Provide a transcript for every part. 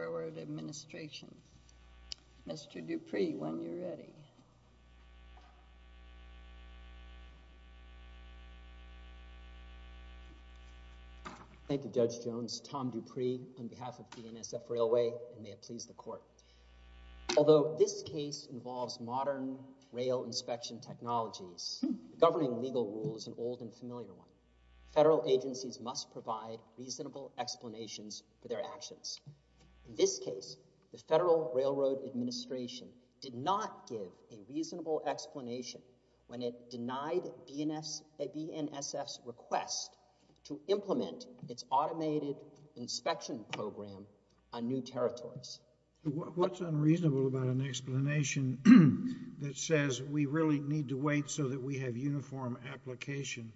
Mr. Dupree, when you're ready. Thank you, Judge Jones. Tom Dupree on behalf of BNSF Railway, and may it please the Court. Although this case involves modern rail inspection technologies governing legal rules, an old and familiar one, federal agencies must provide reasonable explanations for their actions. In this case, the Federal Railroad Administration did not give a reasonable explanation when it denied BNSF's request to implement its automated inspection program on new territories. What's unreasonable about an explanation that says we really need to wait so that we have a uniform application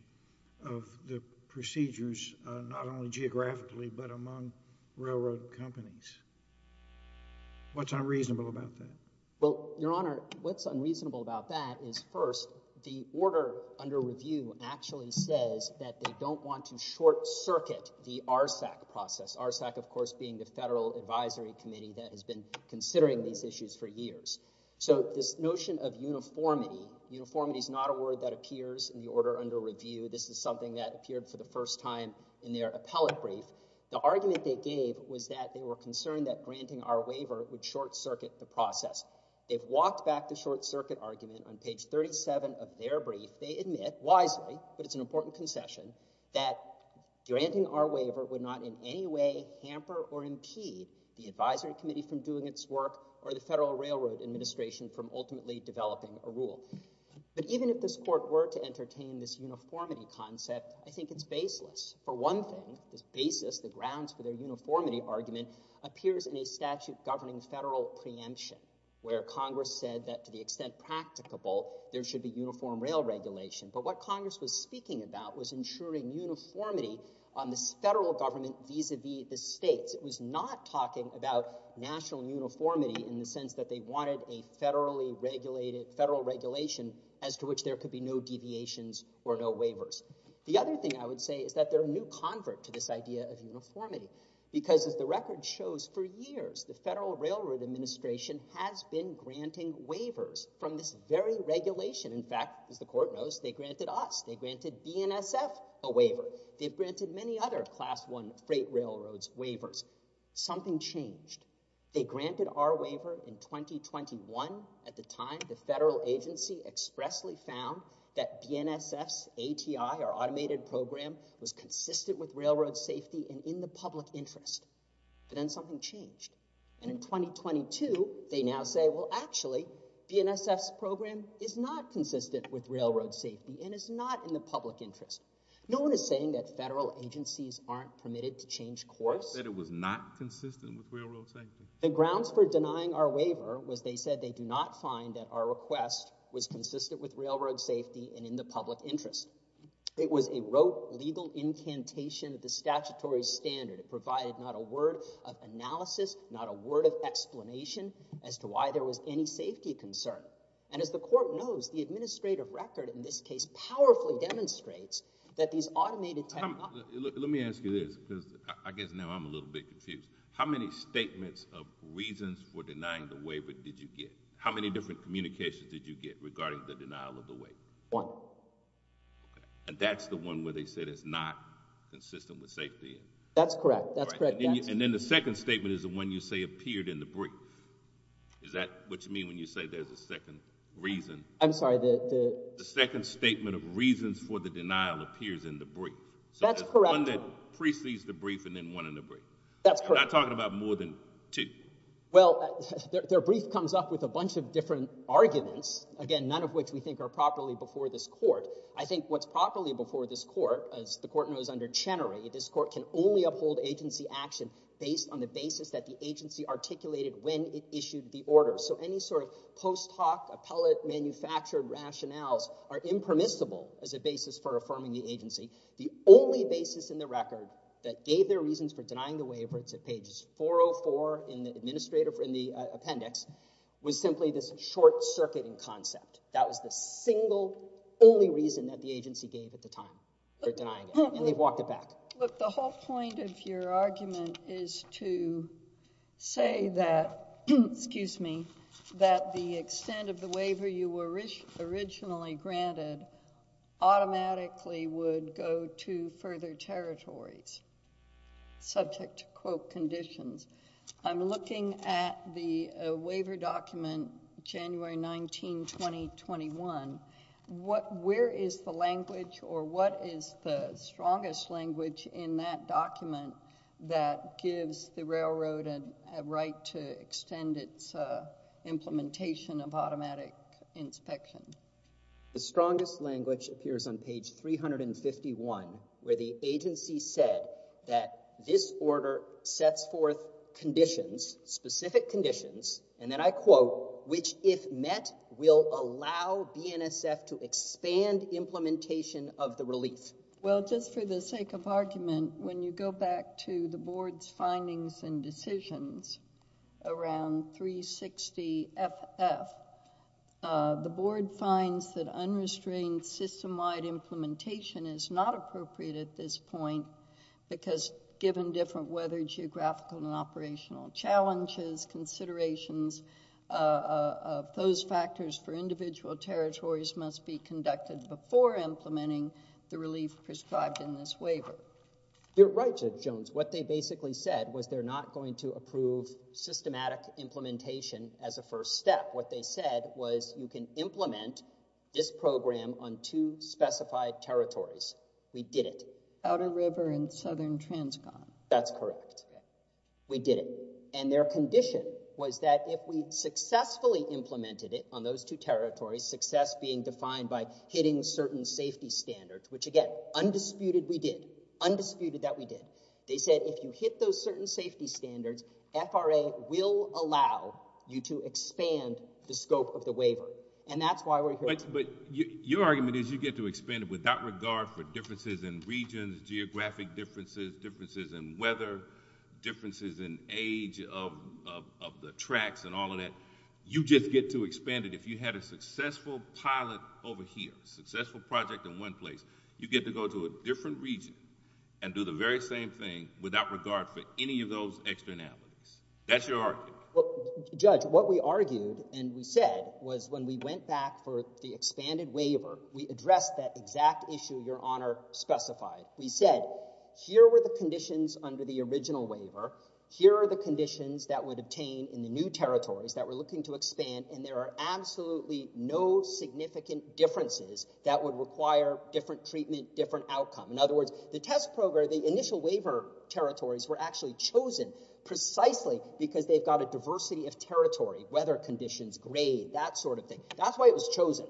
of the procedures, not only geographically, but among railroad companies? What's unreasonable about that? Well, Your Honor, what's unreasonable about that is, first, the order under review actually says that they don't want to short-circuit the RSAC process, RSAC, of course, being the Federal Advisory Committee that has been considering these issues for years. So, this notion of uniformity, uniformity is not a word that appears in the order under review. This is something that appeared for the first time in their appellate brief. The argument they gave was that they were concerned that granting our waiver would short-circuit the process. They've walked back the short-circuit argument on page 37 of their brief. They admit, wisely, but it's an important concession, that granting our waiver would not in any way hamper or impede the Advisory Committee from doing its work or the Federal Railroad Administration from ultimately developing a rule. But even if this Court were to entertain this uniformity concept, I think it's baseless. For one thing, this basis, the grounds for their uniformity argument, appears in a statute governing federal preemption, where Congress said that, to the extent practicable, there should be uniform rail regulation. But what Congress was speaking about was ensuring uniformity on the federal government vis-a-vis the states. Congress was not talking about national uniformity in the sense that they wanted a federal regulation as to which there could be no deviations or no waivers. The other thing I would say is that they're a new convert to this idea of uniformity, because, as the record shows, for years, the Federal Railroad Administration has been granting waivers from this very regulation. In fact, as the Court knows, they granted us. They granted BNSF a waiver. They've granted many other Class I freight railroads waivers. Something changed. They granted our waiver in 2021. At the time, the federal agency expressly found that BNSF's ATI, or Automated Program, was consistent with railroad safety and in the public interest. But then something changed. And in 2022, they now say, well, actually, BNSF's program is not consistent with railroad safety and is not in the public interest. No one is saying that federal agencies aren't permitted to change course. That it was not consistent with railroad safety. The grounds for denying our waiver was they said they do not find that our request was consistent with railroad safety and in the public interest. It was a rote, legal incantation of the statutory standard. It provided not a word of analysis, not a word of explanation as to why there was any safety concern. And as the court knows, the administrative record in this case powerfully demonstrates that these automated... Let me ask you this because I guess now I'm a little bit confused. How many statements of reasons for denying the waiver did you get? How many different communications did you get regarding the denial of the waiver? One. And that's the one where they said it's not consistent with safety? That's correct. That's correct. And then the second statement is the one you say appeared in the brief. Is that what you mean when you say there's a second reason? I'm sorry, the... The second statement of reasons for the denial appears in the brief. That's correct. So there's one that precedes the brief and then one in the brief. That's correct. I'm not talking about more than two. Well, their brief comes up with a bunch of different arguments, again, none of which we think are properly before this court. I think what's properly before this court, as the court knows under Chenery, this court can only uphold agency action based on the basis that the agency articulated when it issued the order. So any sort of post hoc, appellate, manufactured rationales are impermissible as a basis for affirming the agency. The only basis in the record that gave their reasons for denying the waiver, it's at pages 404 in the appendix, was simply this short-circuiting concept. That was the single only reason that the agency gave at the time for denying it. And they've walked it back. Well, look, the whole point of your argument is to say that, excuse me, that the extent of the waiver you were originally granted automatically would go to further territories subject to quote conditions. I'm looking at the waiver document January 19, 2021. Where is the language or what is the strongest language in that document that gives the railroad a right to extend its implementation of automatic inspection? The strongest language appears on page 351 where the agency said that this order sets forth conditions, specific conditions, and then I quote, which if met will allow BNSF to expand implementation of the relief. Well, just for the sake of argument, when you go back to the board's findings and decisions around 360FF, the board finds that unrestrained system-wide implementation is not appropriate at this point because given different weather, geographical, and operational challenges, considerations of those factors for individual territories must be conducted before implementing the relief prescribed in this waiver. You're right, Judge Jones. What they basically said was they're not going to approve systematic implementation as a first step. What they said was you can implement this program on two specified territories. We did it. Outer River and Southern Transcon. That's correct. We did it. And their condition was that if we successfully implemented it on those two territories, success being defined by hitting certain safety standards, which again, undisputed we did, undisputed that we did. They said if you hit those certain safety standards, FRA will allow you to expand the scope of the waiver, and that's why we're here today. But your argument is you get to expand it without regard for differences in regions, geographic differences, differences in weather, differences in age of the tracks and all of that. You just get to expand it. If you had a successful pilot over here, successful project in one place, you get to go to a different region and do the very same thing without regard for any of those externalities. That's your argument. Well, Judge, what we argued and we said was when we went back for the expanded waiver, we addressed that exact issue Your Honor specified. We said here were the conditions under the original waiver. Here are the conditions that would obtain in the new territories that we're looking to expand, and there are absolutely no significant differences that would require different treatment, different outcome. In other words, the test program, the initial waiver territories were actually chosen precisely because they've got a diversity of territory, weather conditions, grade, that sort of thing. That's why it was chosen.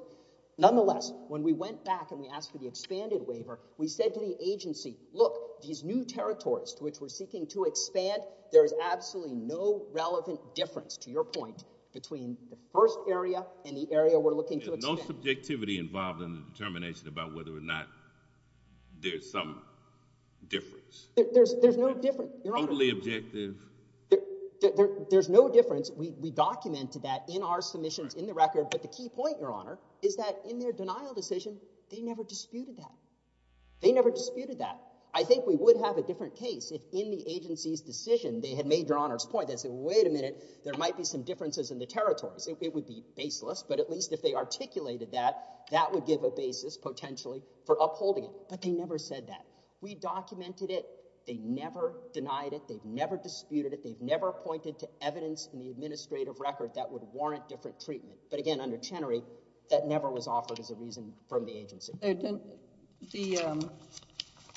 Nonetheless, when we went back and we asked for the expanded waiver, we said to the agency, look, these new territories to which we're seeking to expand, there is absolutely no relevant difference, to your point, between the first area and the area we're looking to expand. There's no subjectivity involved in the determination about whether or not there's some difference. There's no difference. Totally objective. There's no difference. We documented that in our submissions in the record. But the key point, Your Honor, is that in their denial decision, they never disputed that. They never disputed that. I think we would have a different case if in the agency's decision they had made Your Honor's point. They said, wait a minute. There might be some differences in the territories. It would be baseless, but at least if they articulated that, that would give a basis potentially for upholding it. But they never said that. We documented it. They never denied it. They never disputed it. They never pointed to evidence in the administrative record that would warrant different treatment. But again, under Chenery, that never was offered as a reason from the agency.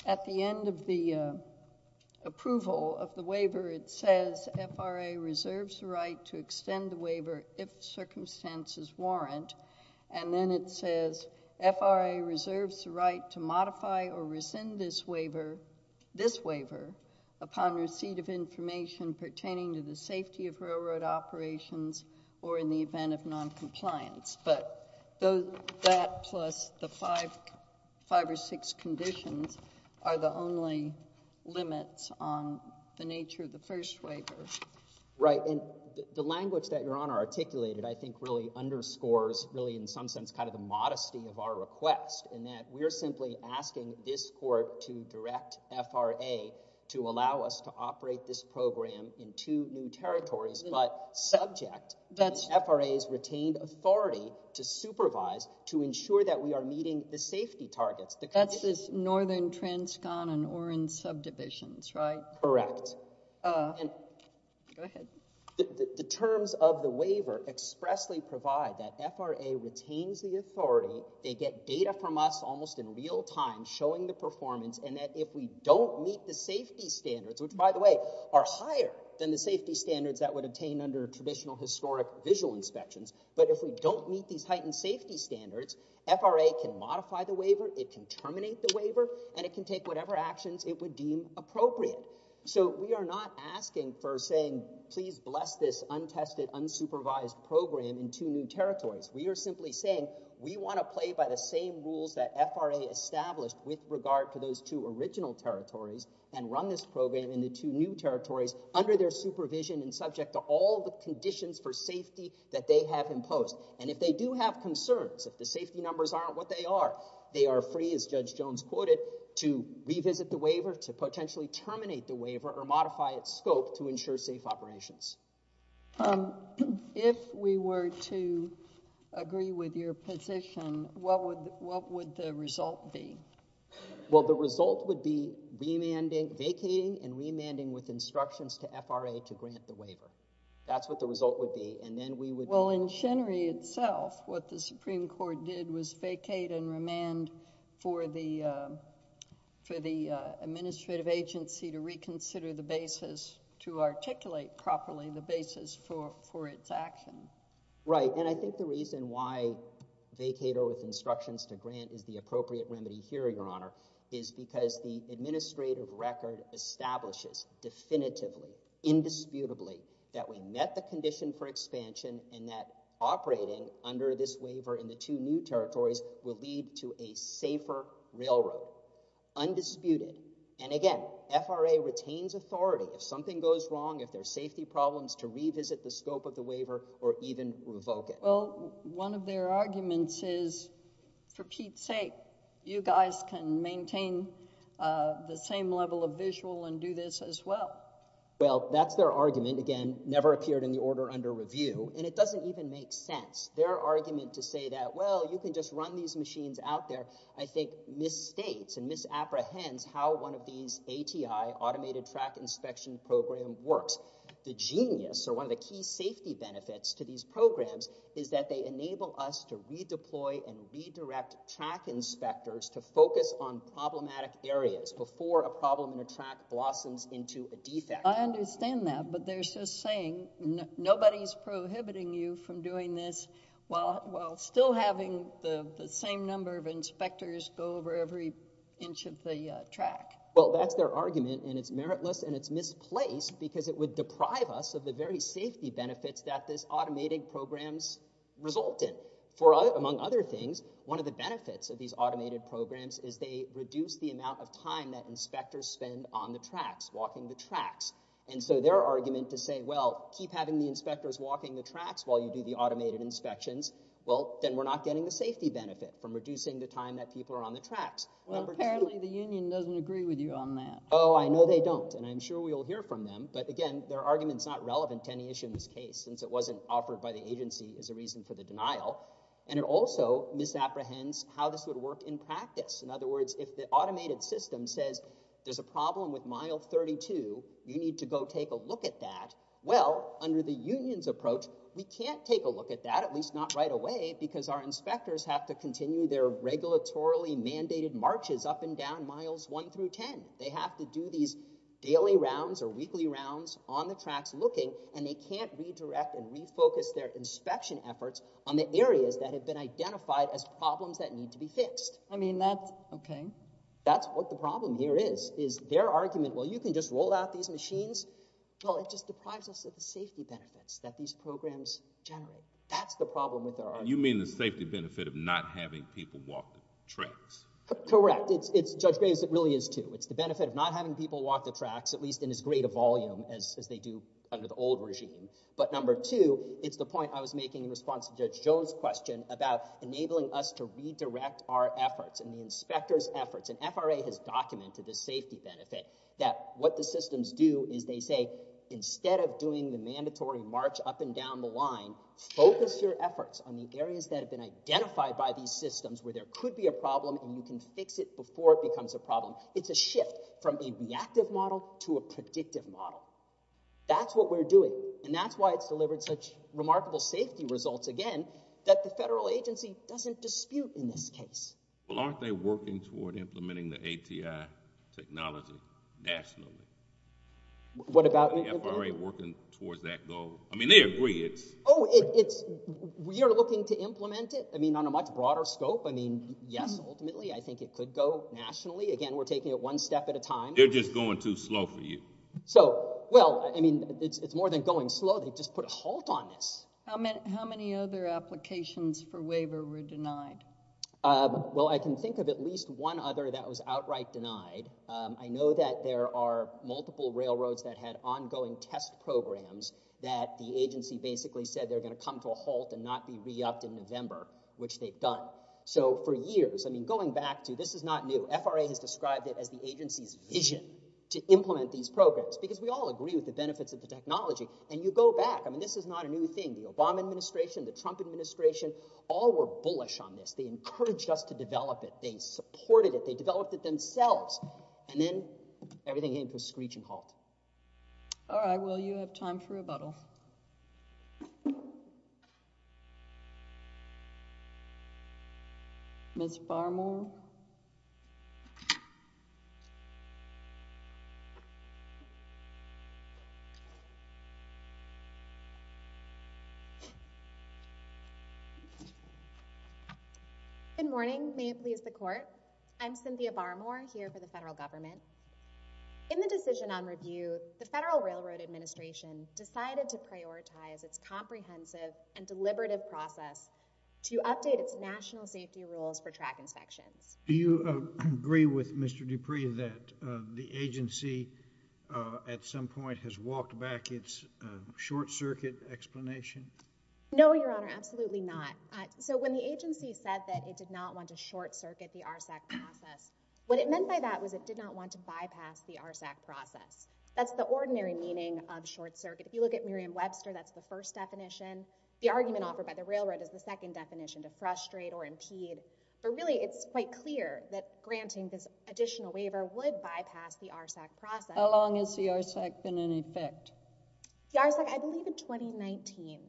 At the end of the approval of the waiver, it says, FRA reserves the right to extend the waiver if circumstances warrant. And then it says, FRA reserves the right to modify or rescind this waiver upon receipt of information pertaining to the safety of railroad operations or in the event of noncompliance. But that plus the five or six conditions are the only limits on the nature of the first waiver. Right. And the language that Your Honor articulated, I think, really underscores, really in some sense, kind of the modesty of our request in that we are simply asking this court to direct FRA to allow us to operate this program in two new territories, but subject to FRA's retained authority to supervise, to ensure that we are meeting the safety targets. That's this Northern Transcon and Orange subdivisions, right? Correct. Go ahead. The terms of the waiver expressly provide that FRA retains the authority, they get data from us almost in real time showing the performance, and that if we don't meet the safety standards, which, by the way, are higher than the safety standards that would obtain under traditional historic visual inspections, but if we don't meet these heightened safety standards, FRA can modify the waiver, it can terminate the waiver, and it can take whatever actions it would deem appropriate. So we are not asking for saying, please bless this untested, unsupervised program in two new territories. We are simply saying we want to play by the same rules that FRA established with regard to those two original territories and run this program in the two new territories under their supervision and subject to all the conditions for safety that they have imposed. And if they do have concerns, if the safety numbers aren't what they are, they are free, as Judge Jones quoted, to revisit the waiver, to potentially terminate the waiver, or modify its scope to ensure safe operations. If we were to agree with your position, what would the result be? Well, the result would be vacating and remanding with instructions to FRA to grant the waiver. That's what the result would be. Well, in Chenery itself, what the Supreme Court did was vacate and remand for the administrative agency to reconsider the basis, to articulate properly the basis for its action. Right. And I think the reason why vacater with instructions to grant is the appropriate remedy here, Your Honor, is because the administrative record establishes definitively, indisputably, that we met the condition for expansion and that operating under this waiver in the two new territories will lead to a safer railroad. Undisputed. And again, FRA retains authority. If something goes wrong, if there's safety problems, to revisit the scope of the waiver or even revoke it. Well, one of their arguments is, for Pete's sake, you guys can maintain the same level of visual and do this as well. Well, that's their argument. Again, never appeared in the order under review. And it doesn't even make sense. Their argument to say that, well, you can just run these machines out there, I think misstates and misapprehends how one of these ATI, Automated Track Inspection Program, works. The genius or one of the key safety benefits to these programs is that they enable us to redeploy and redirect track inspectors to focus on problematic areas before a problem or track blossoms into a defect. I understand that, but they're just saying nobody's prohibiting you from doing this while still having the same number of inspectors go over every inch of the track. Well, that's their argument and it's meritless and it's misplaced because it would deprive us of the very safety benefits that this automated programs result in. For among other things, one of the benefits of these automated programs is they reduce the amount of time that inspectors spend on the tracks, walking the tracks. And so their argument to say, well, keep having the inspectors walking the tracks while you do the automated inspections, well, then we're not getting the safety benefit from reducing the time that people are on the tracks. Well, apparently the union doesn't agree with you on that. Oh, I know they don't. And I'm sure we'll hear from them. But again, their argument's not relevant to any issue in this case since it wasn't offered by the agency as a reason for the denial. And it also misapprehends how this would work in practice. In other words, if the automated system says there's a problem with mile 32, you need to go take a look at that. Well, under the union's approach, we can't take a look at that, at least not right away, because our inspectors have to continue their regulatorily mandated marches up and down miles 1 through 10. They have to do these daily rounds or weekly rounds on the tracks looking, and they can't redirect and refocus their inspection efforts on the areas that have been identified as problems that need to be fixed. I mean, that's okay. That's what the problem here is, is their argument, well, you can just roll out these machines. Well, it just deprives us of the safety benefits that these programs generate. That's the problem with their argument. And you mean the safety benefit of not having people walk the tracks? Correct. It's, Judge Graves, it really is, too. It's the benefit of not having people walk the tracks, at least in as great a volume as they do under the old regime. But number two, it's the point I was making in response to Judge Jones' question about enabling us to redirect our efforts and the inspector's efforts. And FRA has documented the safety benefit, that what the systems do is they say, instead of doing the mandatory march up and down the line, focus your efforts on the areas that have been identified by these systems where there could be a problem and you can fix it before it becomes a problem. It's a shift from a reactive model to a predictive model. That's what we're doing. And that's why it's delivered such remarkable safety results, again, that the federal agency doesn't dispute in this case. Well, aren't they working toward implementing the ATI technology nationally? What about? Aren't the FRA working towards that goal? I mean, they agree. Oh, we are looking to implement it, I mean, on a much broader scope. I mean, yes, ultimately, I think it could go nationally. Again, we're taking it one step at a time. They're just going too slow for you. So, well, I mean, it's more than going slow. They've just put a halt on this. How many other applications for waiver were denied? Well, I can think of at least one other that was outright denied. I know that there are multiple railroads that had ongoing test programs that the agency basically said they're going to come to a halt and not be re-upped in November, which they've done. So for years, I mean, going back to, this is not new, FRA has described it as the agency's decision to implement these programs because we all agree with the benefits of the technology. And you go back, I mean, this is not a new thing. The Obama administration, the Trump administration, all were bullish on this. They encouraged us to develop it. They supported it. They developed it themselves. And then everything came to a screeching halt. All right. Well, you have time for rebuttal. Ms. Farmore? Ms. Farmore? Good morning. May it please the Court? I'm Cynthia Farmore, here for the federal government. In the decision on review, the Federal Railroad Administration decided to prioritize its comprehensive and deliberative process to update its national safety rules for track inspections. Do you agree with Mr. Dupree that the agency, at some point, has walked back its short circuit explanation? No, Your Honor. Absolutely not. So when the agency said that it did not want to short circuit the RSAC process, what it meant by that was it did not want to bypass the RSAC process. That's the ordinary meaning of short circuit. If you look at Merriam-Webster, that's the first definition. The argument offered by the railroad is the second definition, to frustrate or impede. But really, it's quite clear that granting this additional waiver would bypass the RSAC process. How long has the RSAC been in effect? The RSAC, I believe, in 2019.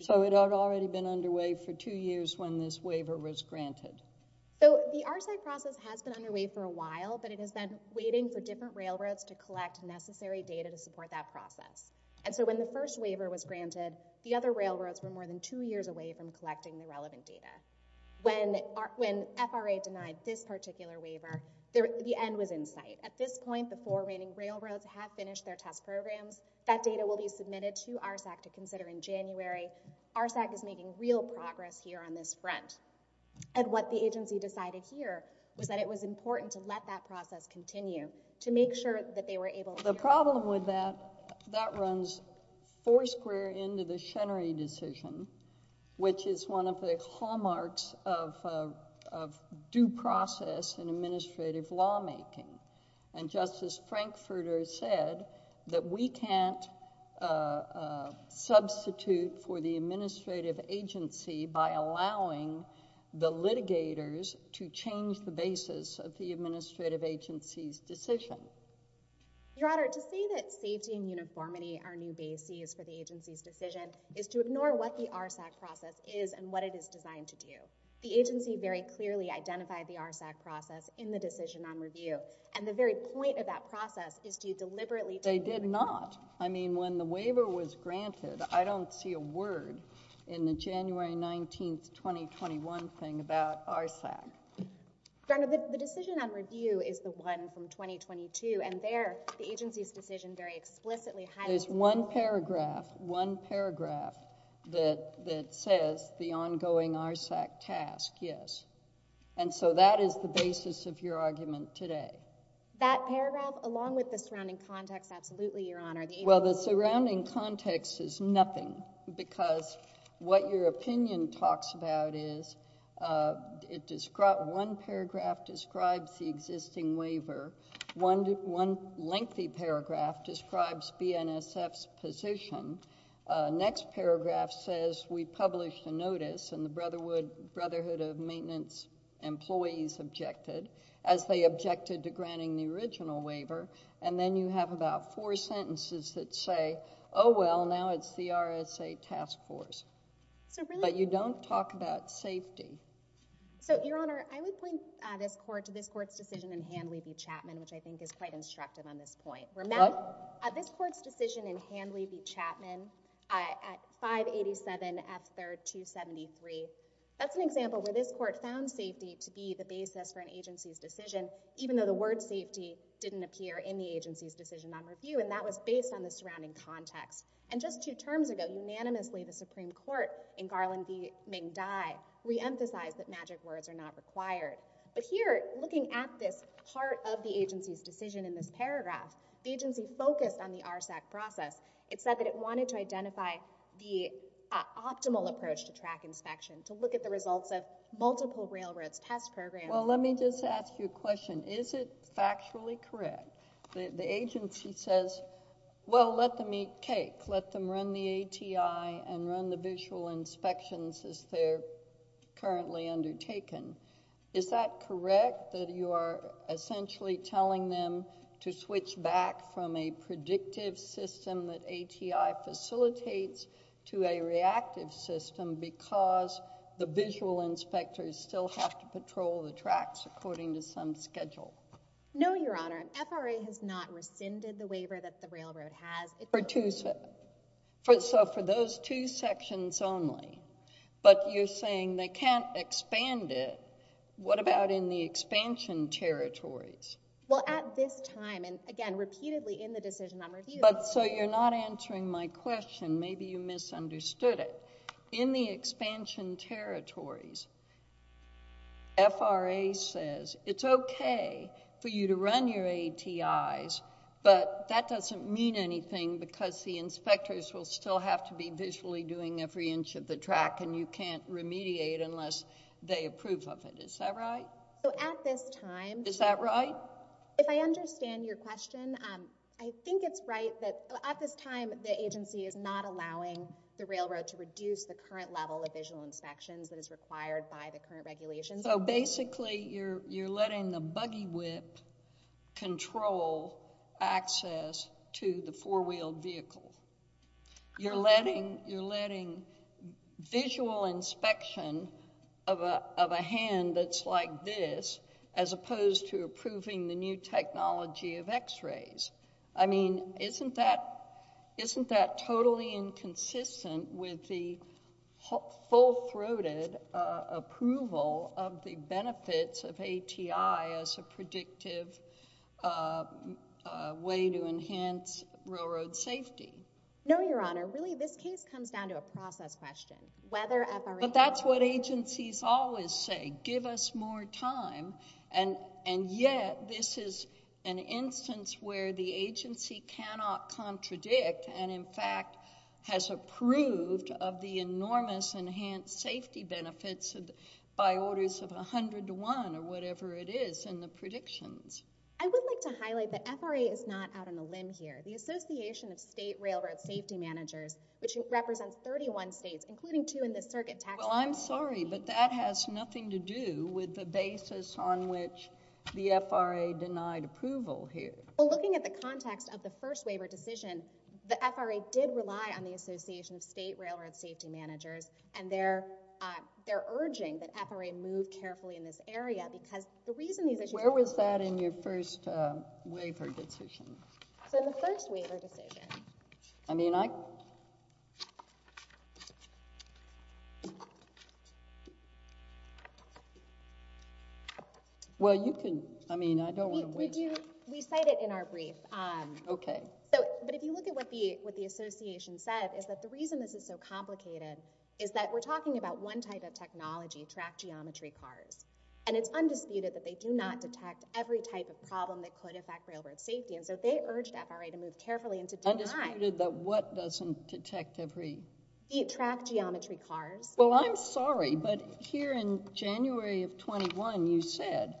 So it had already been underway for two years when this waiver was granted. So the RSAC process has been underway for a while, but it has been waiting for different railroads to collect necessary data to support that process. And so when the first waiver was granted, the other railroads were more than two years away from collecting the relevant data. When FRA denied this particular waiver, the end was in sight. At this point, the four reigning railroads have finished their test programs. That data will be submitted to RSAC to consider in January. RSAC is making real progress here on this front. And what the agency decided here was that it was important to let that process continue to make sure that they were able to— The problem with that, that runs foursquare into the Chenery decision, which is one of the hallmarks of due process in administrative lawmaking. And Justice Frankfurter said that we can't substitute for the administrative agency by allowing the litigators to change the basis of the administrative agency's decision. Your Honor, to say that safety and uniformity are new bases for the agency's decision is to ignore what the RSAC process is and what it is designed to do. The agency very clearly identified the RSAC process in the decision on review, and the very point of that process is to deliberately— They did not. I mean, when the waiver was granted, I don't see a word in the January 19, 2021 thing about RSAC. Your Honor, the decision on review is the one from 2022, and there, the agency's decision very explicitly— There's one paragraph, one paragraph that says the ongoing RSAC task, yes. And so that is the basis of your argument today. That paragraph, along with the surrounding context, absolutely, Your Honor. Well, the surrounding context is nothing, because what your opinion talks about is it describes—one paragraph describes the existing waiver. One lengthy paragraph describes BNSF's position. The next paragraph says we published a notice, and the Brotherhood of Maintenance employees objected as they objected to granting the original waiver, and then you have about four sentences that say, oh, well, now it's the RSA task force. But you don't talk about safety. So, Your Honor, I would point this Court to this Court's decision in Handley v. Chapman, which I think is quite instructive on this point. What? This Court's decision in Handley v. Chapman at 587 F. 3rd 273, that's an example where this Court found safety to be the basis for an agency's decision, even though the word safety didn't appear in the agency's decision on review, and that was based on the surrounding context. And just two terms ago, unanimously, the Supreme Court in Garland v. Ming Dai reemphasized that magic words are not required. But here, looking at this part of the agency's decision in this paragraph, the agency focused on the RSAC process. It said that it wanted to identify the optimal approach to track inspection, to look at the multiple railroads test program. Well, let me just ask you a question. Is it factually correct that the agency says, well, let them eat cake, let them run the ATI and run the visual inspections as they're currently undertaken? Is that correct, that you are essentially telling them to switch back from a predictive system that ATI facilitates to a reactive system because the visual inspectors still have to patrol the tracks according to some schedule? No, Your Honor. FRA has not rescinded the waiver that the railroad has. So for those two sections only. But you're saying they can't expand it. What about in the expansion territories? Well, at this time, and again, repeatedly in the decision I'm reviewing. So you're not answering my question. Maybe you misunderstood it. In the expansion territories, FRA says it's okay for you to run your ATIs, but that doesn't mean anything because the inspectors will still have to be visually doing every inch of the track and you can't remediate unless they approve of it. Is that right? So at this time. Is that right? If I understand your question, I think it's right that at this time, the agency is not allowing the railroad to reduce the current level of visual inspections that is required by the current regulations. So basically, you're letting the buggy whip control access to the four-wheeled vehicle. You're letting visual inspection of a hand that's like this, as opposed to approving the new technology of x-rays. I mean, isn't that totally inconsistent with the full-throated approval of the benefits of ATI as a predictive way to enhance railroad safety? No, Your Honor. Really, this case comes down to a process question. Whether FRA... But that's what agencies always say. Give us more time. And yet, this is an instance where the agency cannot contradict and, in fact, has approved of the enormous enhanced safety benefits by orders of 101 or whatever it is in the predictions. I would like to highlight that FRA is not out on a limb here. The Association of State Railroad Safety Managers, which represents 31 states, including two in the circuit tax... Well, I'm sorry, but that has nothing to do with the basis on which the FRA denied approval here. Well, looking at the context of the first waiver decision, the FRA did rely on the Association of State Railroad Safety Managers, and they're urging that FRA move carefully in this area because the reason these issues... Where was that in your first waiver decision? So, in the first waiver decision... I mean, I... Well, you can... I mean, I don't want to waste... We cite it in our brief. Okay. So, but if you look at what the Association said is that the reason this is so complicated is that we're talking about one type of technology, track geometry cars, and it's undisputed that they do not detect every type of problem that could affect railroad safety, and so they urged FRA to move carefully and to deny... Undisputed that what doesn't detect every... Track geometry cars. Well, I'm sorry, but here in January of 21, you said,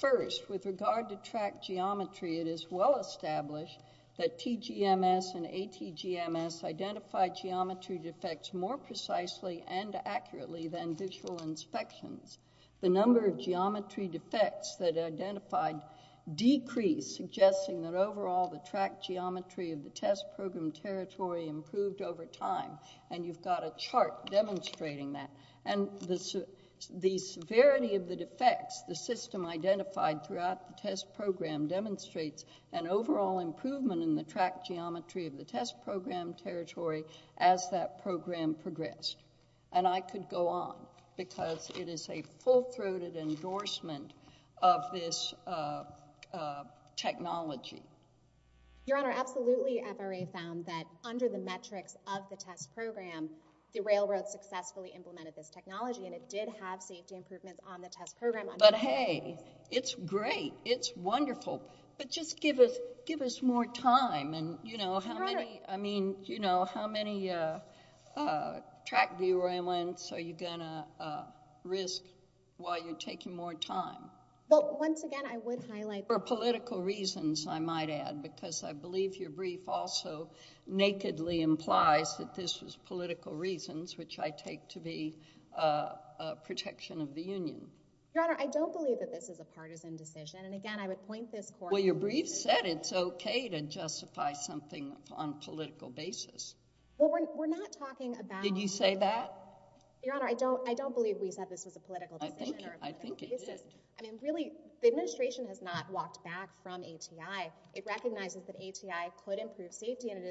first, with regard to track geometry, it is well established that TGMS and ATGMS identified geometry defects more precisely and accurately than visual inspections. The number of geometry defects that identified decreased, suggesting that overall the track geometry of the test program territory improved over time, and you've got a chart demonstrating that, and the severity of the defects the system identified throughout the test program demonstrates an overall improvement in the track geometry of the test program territory as that program progressed. And I could go on, because it is a full-throated endorsement of this technology. Your Honor, absolutely FRA found that under the metrics of the test program, the railroad successfully implemented this technology, and it did have safety improvements on the test program... But just give us more time, and, you know, how many... Your Honor... I mean, you know, how many track derailments are you going to risk while you're taking more time? Well, once again, I would highlight... For political reasons, I might add, because I believe your brief also nakedly implies that this was political reasons, which I take to be protection of the Union. Your Honor, I don't believe that this is a partisan decision, and again, I would point this court... Well, your brief said it's okay to justify something on a political basis. Well, we're not talking about... Did you say that? Your Honor, I don't believe we said this was a political decision... I think it did. I mean, really, the administration has not walked back from ATI. It recognizes that ATI could improve safety, and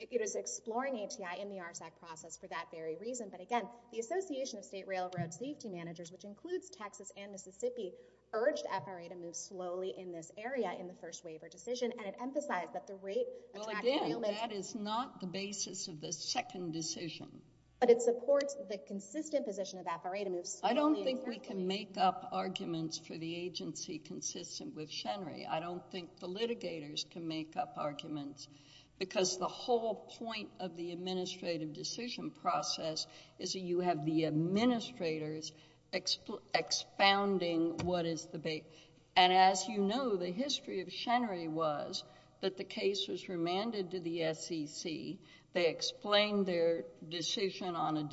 it is exploring ATI in the RSEC process for that very reason. But again, the Association of State Railroad Safety Managers, which includes Texas and this area in the first waiver decision, and it emphasized that the rate... Well, again, that is not the basis of the second decision. But it supports the consistent position of Apparatum... I don't think we can make up arguments for the agency consistent with Shenry. I don't think the litigators can make up arguments, because the whole point of the administrative decision process is that you have the administrators expounding what is the... And as you know, the history of Shenry was that the case was remanded to the SEC. They explained their decision on a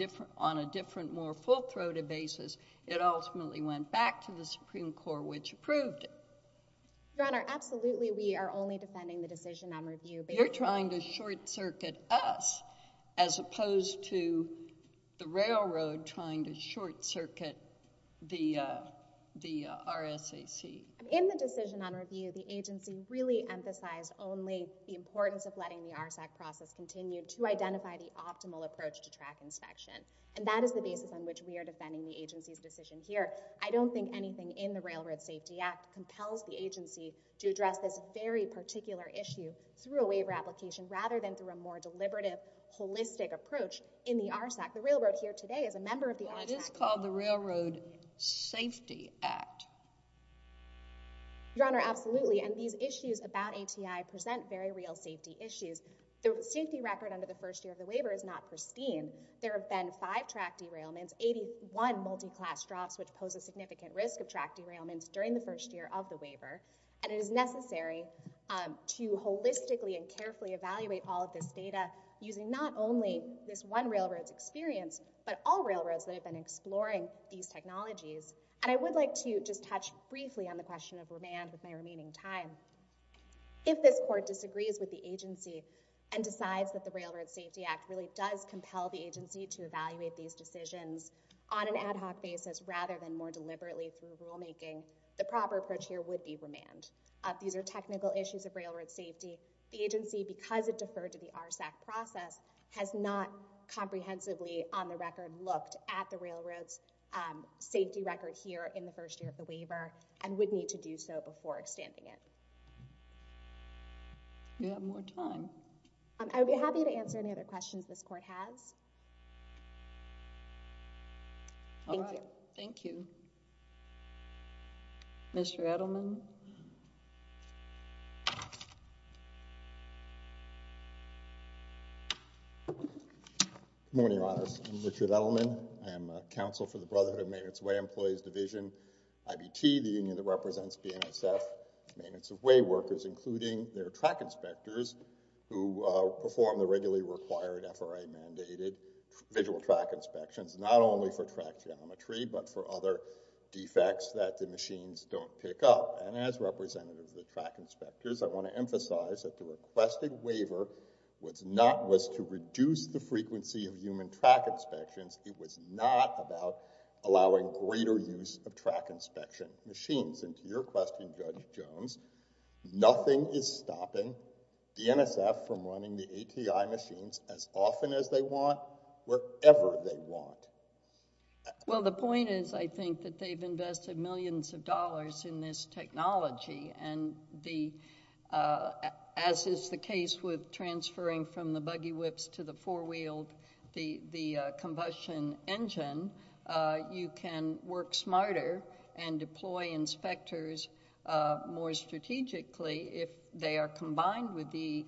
different, more full-throated basis. It ultimately went back to the Supreme Court, which approved it. Your Honor, absolutely, we are only defending the decision on review... You're trying to short-circuit us, as opposed to the railroad trying to short-circuit the RSAC. In the decision on review, the agency really emphasized only the importance of letting the RSEC process continue to identify the optimal approach to track inspection. And that is the basis on which we are defending the agency's decision here. I don't think anything in the Railroad Safety Act compels the agency to address this very rather than through a more deliberative, holistic approach in the RSAC. The railroad here today is a member of the RSAC. Well, it is called the Railroad Safety Act. Your Honor, absolutely. And these issues about ATI present very real safety issues. The safety record under the first year of the waiver is not pristine. There have been five track derailments, 81 multi-class drops, which pose a significant risk of track derailments during the first year of the waiver. And it is necessary to holistically and carefully evaluate all of this data using not only this one railroad's experience, but all railroads that have been exploring these technologies. And I would like to just touch briefly on the question of remand with my remaining time. If this Court disagrees with the agency and decides that the Railroad Safety Act really does compel the agency to evaluate these decisions on an ad hoc basis rather than more deliberately through rulemaking, the proper approach here would be remand. These are technical issues of railroad safety. The agency, because it deferred to the RSAC process, has not comprehensively on the record looked at the railroad's safety record here in the first year of the waiver and would need to do so before extending it. Do we have more time? I would be happy to answer any other questions this Court has. Thank you. Thank you. Mr. Edelman. Good morning, Your Honors. I'm Richard Edelman. I am counsel for the Brotherhood of Maintenance Way Employees Division, IBT, the union that represents BNSF maintenance of way workers, including their track inspectors who perform the regularly required FRA mandated visual track inspections, not only for track geometry but for other defects that the machines don't pick up. And as representative of the track inspectors, I want to emphasize that the requested waiver was to reduce the frequency of human track inspections. It was not about allowing greater use of track inspection machines. And to your question, Judge Jones, nothing is stopping BNSF from running the ATI machines as often as they want, wherever they want. Well, the point is, I think, that they've invested millions of dollars in this technology, and as is the case with transferring from the buggy whips to the four-wheeled, the combustion engine, you can work smarter and deploy inspectors more strategically if they are combined with the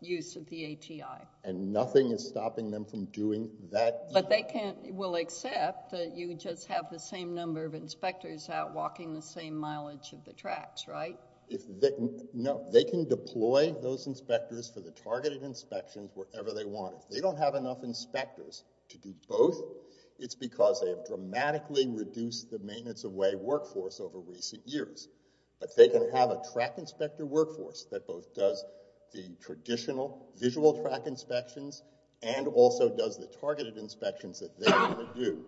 use of the ATI. And nothing is stopping them from doing that? But they will accept that you just have the same number of inspectors out walking the same mileage of the tracks, right? No, they can deploy those inspectors for the targeted inspections wherever they want. If they don't have enough inspectors to do both, it's because they have dramatically reduced the maintenance-of-way workforce over recent years. But they can have a track inspector workforce that both does the traditional visual track inspections and also does the targeted inspections that they want to do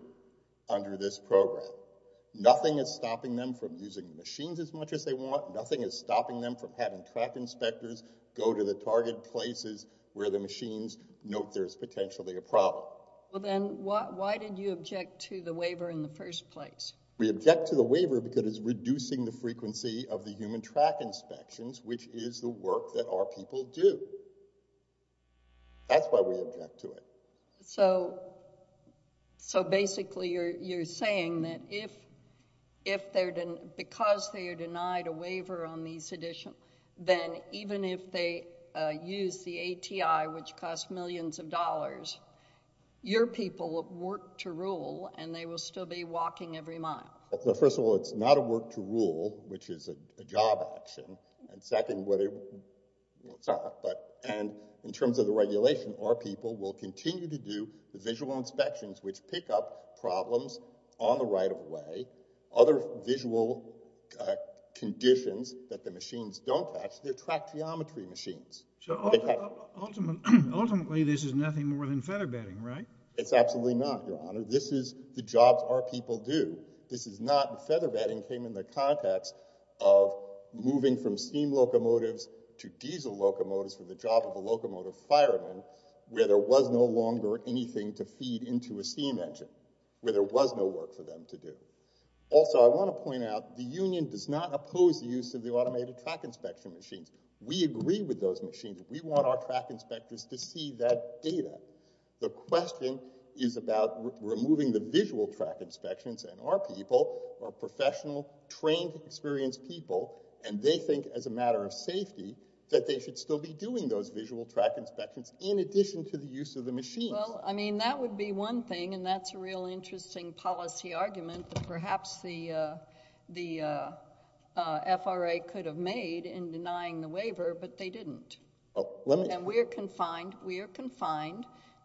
under this program. Nothing is stopping them from using the machines as much as they want. Nothing is stopping them from having track inspectors go to the target places where the machines note there's potentially a problem. Well, then why did you object to the waiver in the first place? We object to the waiver because it's reducing the frequency of the human track inspections, which is the work that our people do. That's why we object to it. So basically you're saying that because they are denied a waiver on these additional, then even if they use the ATI, which costs millions of dollars, your people work to rule and they will still be walking every mile. First of all, it's not a work to rule, which is a job action. And second, in terms of the regulation, our people will continue to do the visual inspections which pick up problems on the right of way. Other visual conditions that the machines don't catch, they're track geometry machines. So ultimately this is nothing more than feather bedding, right? It's absolutely not, Your Honor. This is the jobs our people do. This is not feather bedding came in the context of moving from steam locomotives to diesel locomotives for the job of a locomotive fireman where there was no longer anything to feed into a steam engine, where there was no work for them to do. Also, I want to point out the union does not oppose the use of the automated track inspection machines. We agree with those machines. We want our track inspectors to see that data. The question is about removing the visual track inspections, and our people are professional, trained, experienced people, and they think as a matter of safety that they should still be doing those visual track inspections in addition to the use of the machines. Well, I mean, that would be one thing, and that's a real interesting policy argument that perhaps the FRA could have made in denying the waiver, but they didn't. And we are confined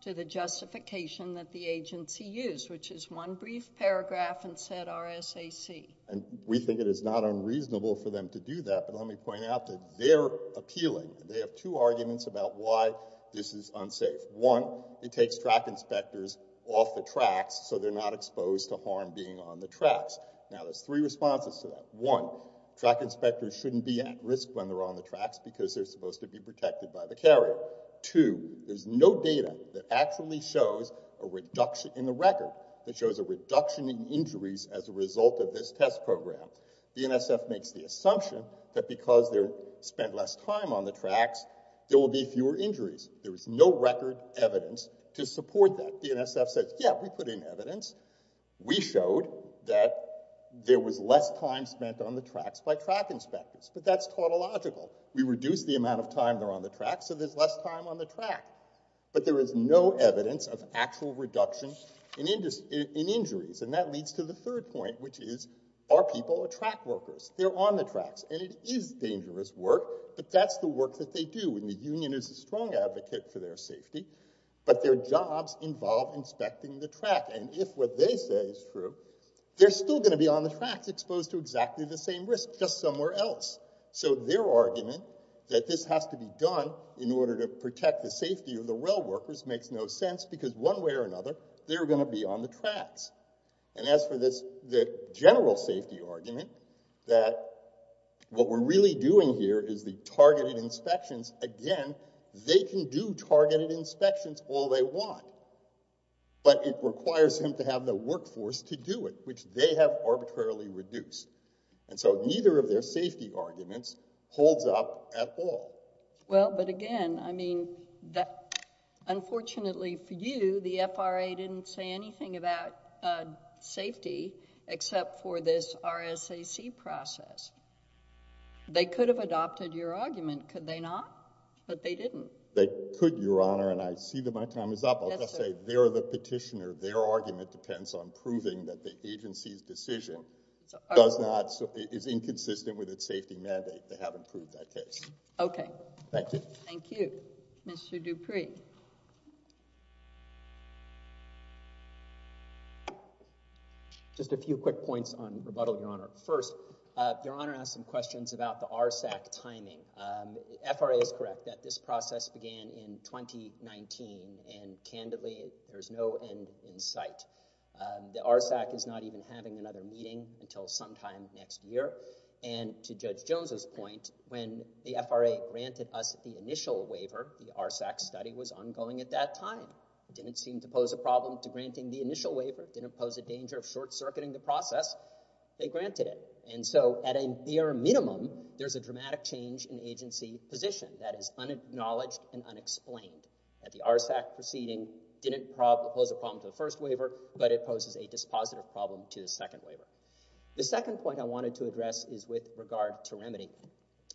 to the justification that the agency used, which is one brief paragraph in said RSAC. And we think it is not unreasonable for them to do that, but let me point out that they're appealing. They have two arguments about why this is unsafe. One, it takes track inspectors off the tracks so they're not exposed to harm being on the tracks. Now, there's three responses to that. One, track inspectors shouldn't be at risk when they're on the tracks because they're supposed to be protected by the carrier. Two, there's no data that actually shows a reduction in the record that shows a reduction in injuries as a result of this test program. The NSF makes the assumption that because they're spent less time on the tracks, there will be fewer injuries. There is no record evidence to support that. The NSF says, yeah, we put in evidence. We showed that there was less time spent on the tracks by track inspectors, but that's tautological. We reduced the amount of time they're on the tracks, so there's less time on the track. But there is no evidence of actual reduction in injuries, and that leads to the third point, which is, are people track workers? They're on the tracks, and it is dangerous work, but that's the work that they do, and the union is a strong advocate for their safety, but their jobs involve inspecting the track, and if what they say is true, they're still going to be on the tracks exposed to exactly the same risk, just somewhere else. So their argument that this has to be done in order to protect the safety of the rail workers makes no sense because one way or another, they're going to be on the tracks. And as for the general safety argument, that what we're really doing here is the targeted inspections. Again, they can do targeted inspections all they want, but it requires them to have the workforce to do it, which they have arbitrarily reduced. And so neither of their safety arguments holds up at all. Well, but again, I mean, unfortunately for you, the FRA didn't say anything about safety except for this RSAC process. They could have adopted your argument, could they not? But they didn't. They could, Your Honor, and I see that my time is up. I'll just say they're the petitioner. Their argument depends on proving that the agency's decision is inconsistent with its safety mandate. They haven't proved that case. Okay. Thank you. Thank you. Mr. Dupree. Just a few quick points on rebuttal, Your Honor. First, Your Honor asked some questions about the RSAC timing. The FRA is correct that this process began in 2019, and candidly, there's no end in sight. The RSAC is not even having another meeting until sometime next year. And to Judge Jones's point, when the FRA granted us the initial waiver, the RSAC study was ongoing at that time. It didn't seem to pose a problem to granting the initial waiver. It didn't pose a danger of short-circuiting the process. They granted it. And so at a near minimum, there's a dramatic change in agency position that is unacknowledged and unexplained. And the RSAC proceeding didn't pose a problem to the first waiver, but it poses a dispositive problem to the second waiver. The second point I wanted to address is with regard to remedy.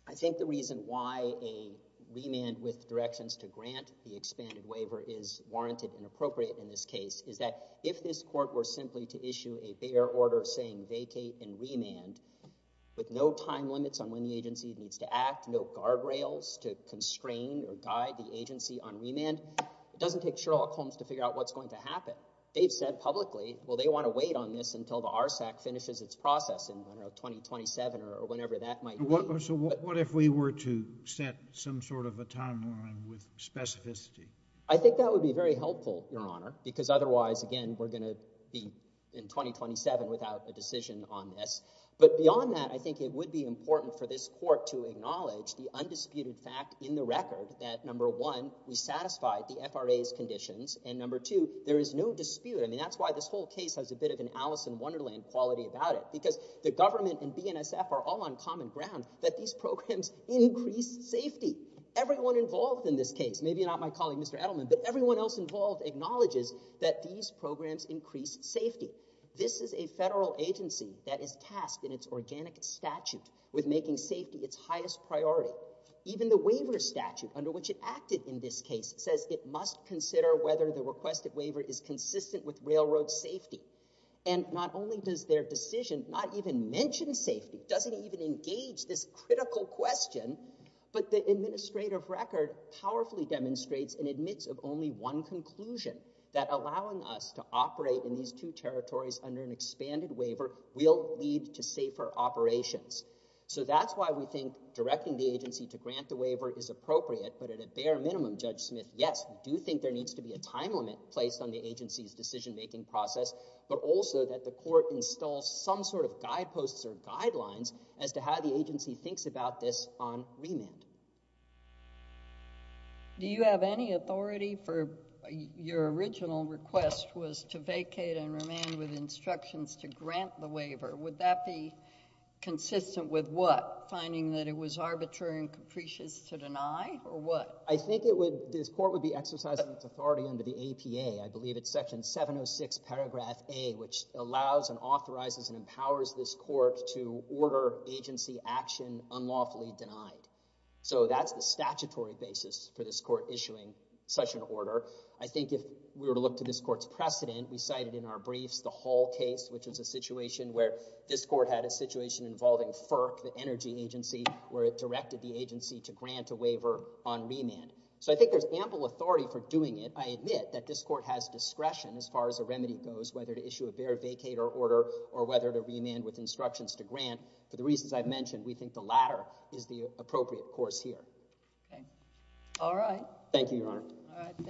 I think the reason why a remand with directions to grant the expanded waiver is warranted and appropriate in this case is that if this court were simply to issue a bare order saying vacate and remand with no time limits on when the agency needs to act, no guardrails to constrain or guide the agency on remand, it doesn't take Sherlock Holmes to figure out what's going to happen. They've said publicly, well, they want to wait on this until the RSAC finishes its process in, I don't know, 2027 or whenever that might be. So what if we were to set some sort of a timeline with specificity? I think that would be very helpful, Your Honor, because otherwise, again, we're going to be in 2027 without a decision on this. But beyond that, I think it would be important for this court to acknowledge the undisputed fact in the record that number one, we satisfy the FRA's conditions, and number two, there is no dispute. I mean, that's why this whole case has a bit of an Alice in Wonderland quality about it because the government and BNSF are all on common ground that these programs increase safety. Everyone involved in this case, maybe not my colleague Mr. Edelman, but everyone else involved acknowledges that these programs increase safety. This is a federal agency that is tasked in its organic statute with making safety its highest priority. Even the waiver statute under which it acted in this case says it must consider whether the requested waiver is consistent with railroad safety. And not only does their decision not even mention safety, doesn't even engage this critical question, but the administrative record powerfully demonstrates and admits of only one conclusion, that allowing us to operate in these two territories under an expanded waiver will lead to safer operations. So that's why we think directing the agency to grant the waiver is appropriate, but at a bare minimum, Judge Smith, yes, we do think there needs to be a time limit placed on the agency's decision-making process, but also that the court installs some sort of guideposts or guidelines as to how the agency thinks about this on remand. Do you have any authority for your original request was to vacate on remand with instructions to grant the waiver? Would that be consistent with what? Finding that it was arbitrary and capricious to deny, or what? I think this court would be exercising its authority under the APA. I believe it's Section 706, Paragraph A, which allows and authorizes and empowers this court to order agency action unlawfully denied. So that's the statutory basis for this court issuing such an order. I think if we were to look to this court's precedent, we cited in our briefs the Hall case, which is a situation where this court had a situation involving FERC, the energy agency, where it directed the agency to grant a waiver on remand. So I think there's ample authority for doing it. I admit that this court has discretion as far as a remedy goes, whether to issue a bare vacate or order or whether to remand with instructions to grant. For the reasons I've mentioned, we think the latter is the appropriate course here. Okay. All right. Thank you, Your Honor. All right. Thank you.